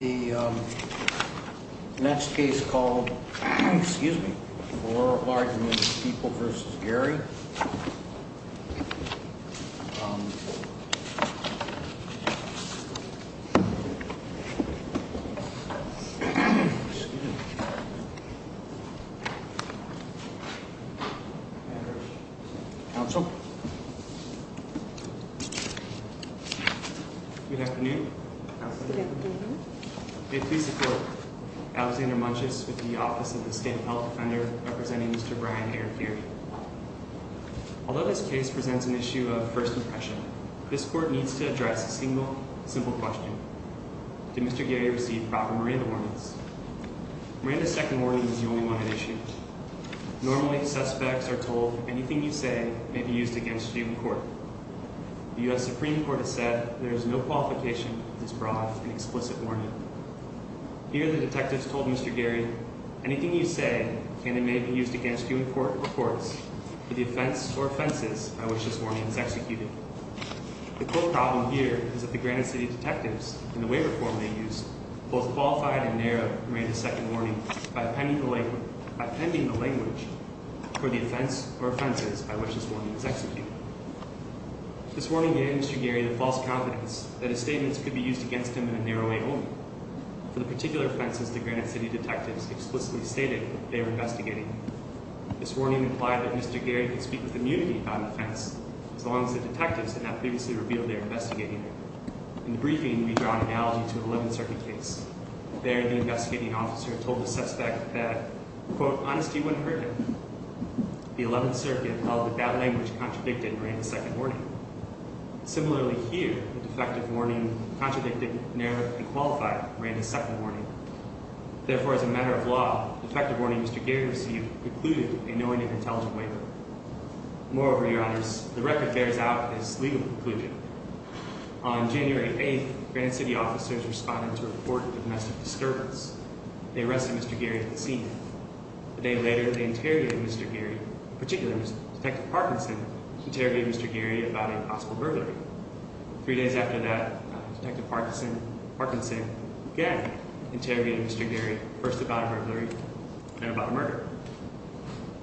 The next case called, excuse me, for argument, People v. Gary. Counsel. Good afternoon. Good afternoon. May it please the court, Alexander Munches with the office of the state health defender representing Mr. Brian A. Gary. Although this case presents an issue of first impression, this court needs to address a single, simple question. Did Mr. Gary receive proper Miranda warnings? Miranda's second warning was the only one at issue. Normally, suspects are told, anything you say may be used against you in court. The U.S. Supreme Court has said there is no qualification for this broad and explicit warning. Here, the detectives told Mr. Gary, anything you say can and may be used against you in court or courts, with the offense or offenses by which this warning is executed. The core problem here is that the Granite City detectives, in the waiver form they used, both qualified and narrow Miranda's second warning by appending the language for the offense or offenses by which this warning is executed. This warning gave Mr. Gary the false confidence that his statements could be used against him in a narrow way only. For the particular offenses, the Granite City detectives explicitly stated they were investigating. This warning implied that Mr. Gary could speak with immunity about an offense, as long as the detectives had not previously revealed they were investigating it. In the briefing, we draw an analogy to an 11th Circuit case. There, the investigating officer told the suspect that, quote, honesty wouldn't hurt him. The 11th Circuit held that that language contradicted Miranda's second warning. Similarly here, the defective warning contradicted narrow and qualified Miranda's second warning. Therefore, as a matter of law, the defective warning Mr. Gary received included a knowing and intelligent waiver. Moreover, Your Honors, the record bears out his legal conclusion. On January 8th, Granite City officers responded to a report of domestic disturbance. They arrested Mr. Gary at the scene. A day later, they interrogated Mr. Gary. In particular, Detective Parkinson interrogated Mr. Gary about a possible burglary. Three days after that, Detective Parkinson again interrogated Mr. Gary, first about a burglary, then about a murder.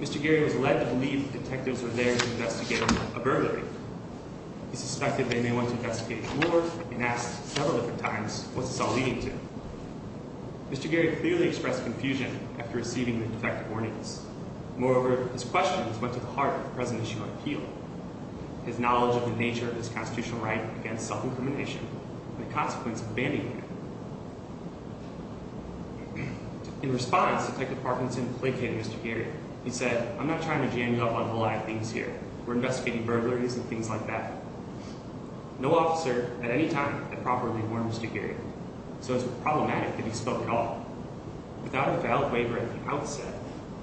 Mr. Gary was led to believe the detectives were there to investigate a burglary. He suspected they may want to investigate more and asked, several different times, what's this all leading to? Mr. Gary clearly expressed confusion after receiving the defective warnings. Moreover, his questions went to the heart of the present issue of appeal, his knowledge of the nature of his constitutional right against self-incrimination and the consequence of banning him. In response, Detective Parkinson placated Mr. Gary. He said, I'm not trying to jam you up on a whole lot of things here. We're investigating burglaries and things like that. No officer at any time had properly warned Mr. Gary, so it's problematic that he spoke at all. Without a valid waiver at the outset,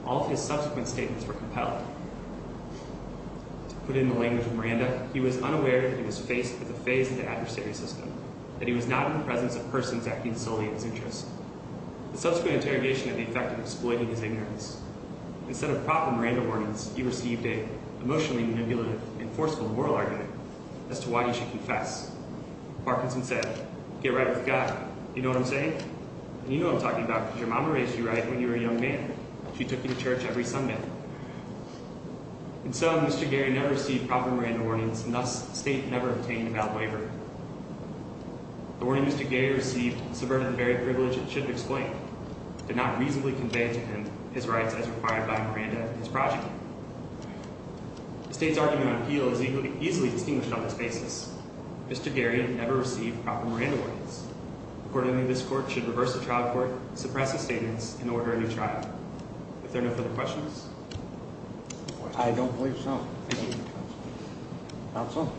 all of his subsequent statements were compelled. To put it in the language of Miranda, he was unaware that he was faced with a phase of the adversary system, that he was not in the presence of persons acting solely in his interest. The subsequent interrogation had the effect of exploiting his ignorance. Instead of proper Miranda warnings, he received an emotionally manipulative and forceful moral argument as to why he should confess. Parkinson said, get right with God, you know what I'm saying? And you know what I'm talking about, because your mom raised you right when you were a young man. She took you to church every Sunday. In sum, Mr. Gary never received proper Miranda warnings, and thus the state never obtained a valid waiver. The warning Mr. Gary received subverted the very privilege it should have explained, did not reasonably convey to him his rights as required by Miranda and his project. The state's argument on appeal is easily distinguished on this basis. Mr. Gary never received proper Miranda warnings. Accordingly, this court should reverse the trial court, suppress his statements, and order a new trial. Are there no further questions? I don't believe so. Thank you. Counsel?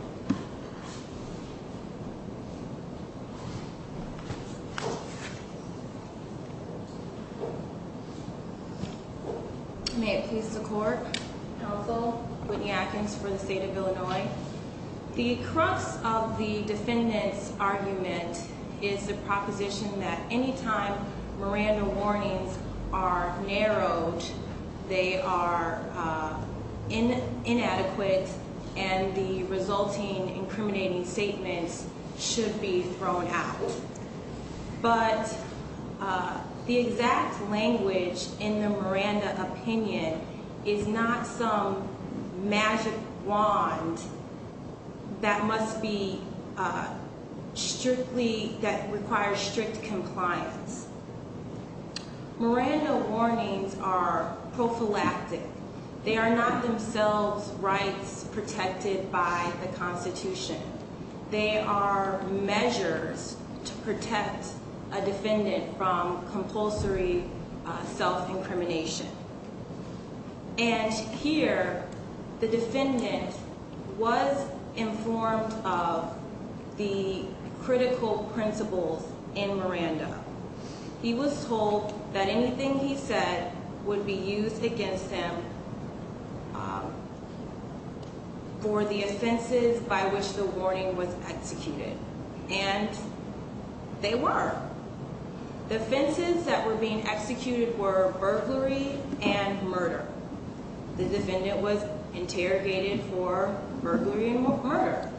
May it please the court. Counsel, Whitney Atkins for the state of Illinois. The crux of the defendant's argument is the proposition that any time Miranda warnings are narrowed, they are inadequate, and the resulting incriminating statements should be thrown out. But the exact language in the Miranda opinion is not some magic wand that requires strict compliance. Miranda warnings are prophylactic. They are not themselves rights protected by the Constitution. They are measures to protect a defendant from compulsory self-incrimination. And here, the defendant was informed of the critical principles in Miranda. He was told that anything he said would be used against him for the offenses by which the warning was executed. And they were. The offenses that were being executed were burglary and murder. The defendant was interrogated for burglary and murder.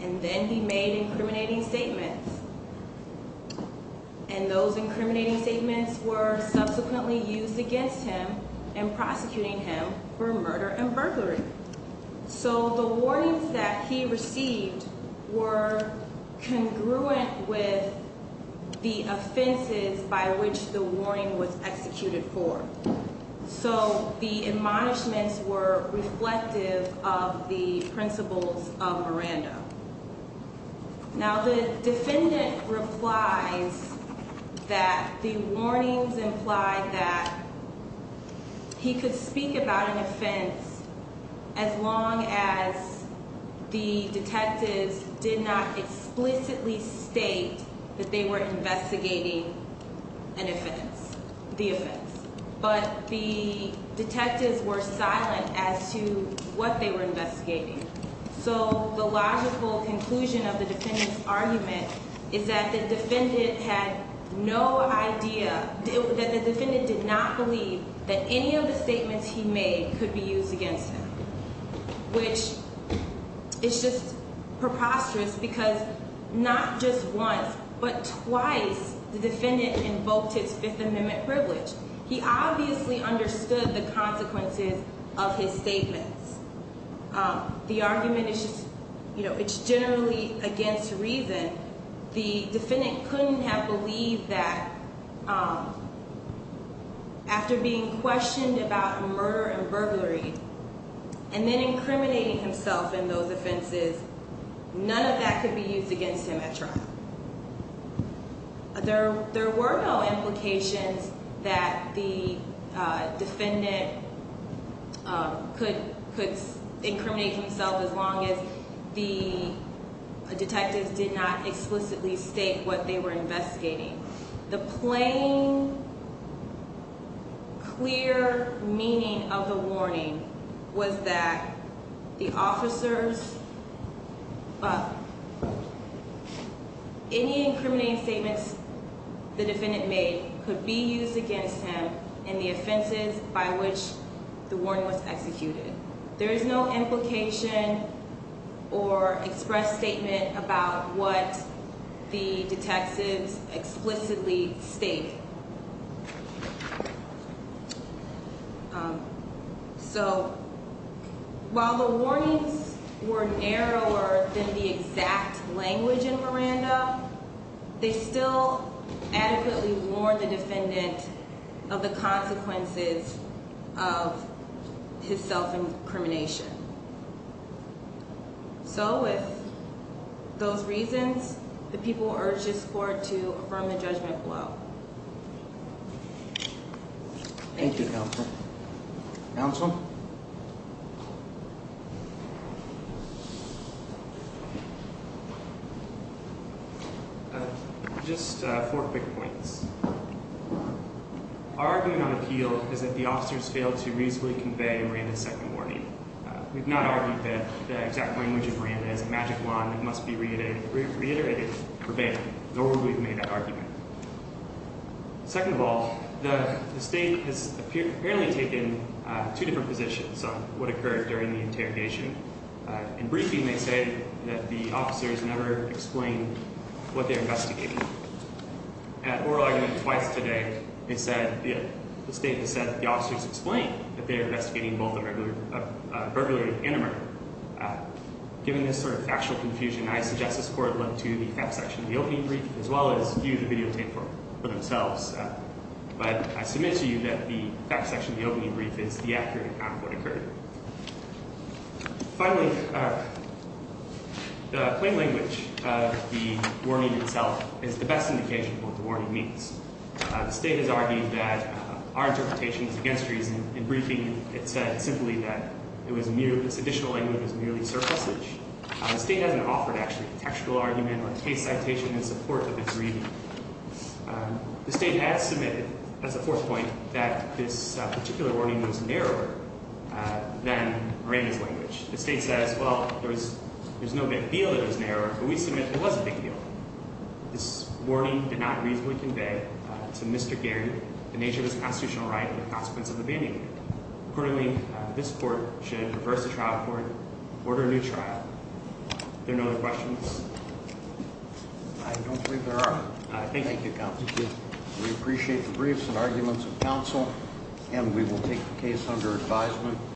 And then he made incriminating statements. And those incriminating statements were subsequently used against him in prosecuting him for murder and burglary. So the warnings that he received were congruent with the offenses by which the warning was executed for. So the admonishments were reflective of the principles of Miranda. Now, the defendant replies that the warnings implied that he could speak about an offense as long as the detectives did not explicitly state that they were investigating an offense, the offense. But the detectives were silent as to what they were investigating. So the logical conclusion of the defendant's argument is that the defendant had no idea, that the defendant did not believe that any of the statements he made could be used against him. Which is just preposterous because not just once, but twice, the defendant invoked his Fifth Amendment privilege. He obviously understood the consequences of his statements. The argument is just, you know, it's generally against reason. The defendant couldn't have believed that after being questioned about murder and burglary, and then incriminating himself in those offenses, none of that could be used against him at trial. There were no implications that the defendant could incriminate himself as long as the detectives did not explicitly state what they were investigating. The plain, clear meaning of the warning was that the officers, any incriminating statements the defendant made could be used against him in the offenses by which the warning was executed. There is no implication or express statement about what the detectives explicitly state. So while the warnings were narrower than the exact language in Miranda, they still adequately warned the defendant of the consequences of his self-incrimination. So with those reasons, the people urge this court to affirm the judgment below. Thank you, Counsel. Counsel? Just four quick points. Our argument on appeal is that the officers failed to reasonably convey Miranda's second warning. We've not argued that the exact language of Miranda is a magic wand that must be reiterated, prevailed, nor would we have made that argument. Second of all, the State has apparently taken two different positions on what occurred during the interrogation. In briefing, they say that the officers never explained what they were investigating. At oral argument twice today, the State has said that the officers explained that they were investigating both a burglary and a murder. Given this sort of factual confusion, I suggest this court look to the fact section of the opening brief as well as view the videotape for themselves. But I submit to you that the fact section of the opening brief is the accurate account of what occurred. Finally, the plain language of the warning itself is the best indication of what the warning means. The State has argued that our interpretation is against reason. In briefing, it said simply that this additional language was merely surplusage. The State hasn't offered, actually, contextual argument or case citation in support of its reading. The State has submitted, as a fourth point, that this particular warning was narrower than Miranda's language. The State says, well, there's no big deal that it was narrower, but we submit that it was a big deal. This warning did not reasonably convey to Mr. Gaird the nature of his constitutional right and the consequence of abandoning it. Accordingly, this court should reverse the trial court, order a new trial. Are there no other questions? I don't believe there are. Thank you, Counsel. We appreciate the briefs and arguments of counsel, and we will take the case under advisement.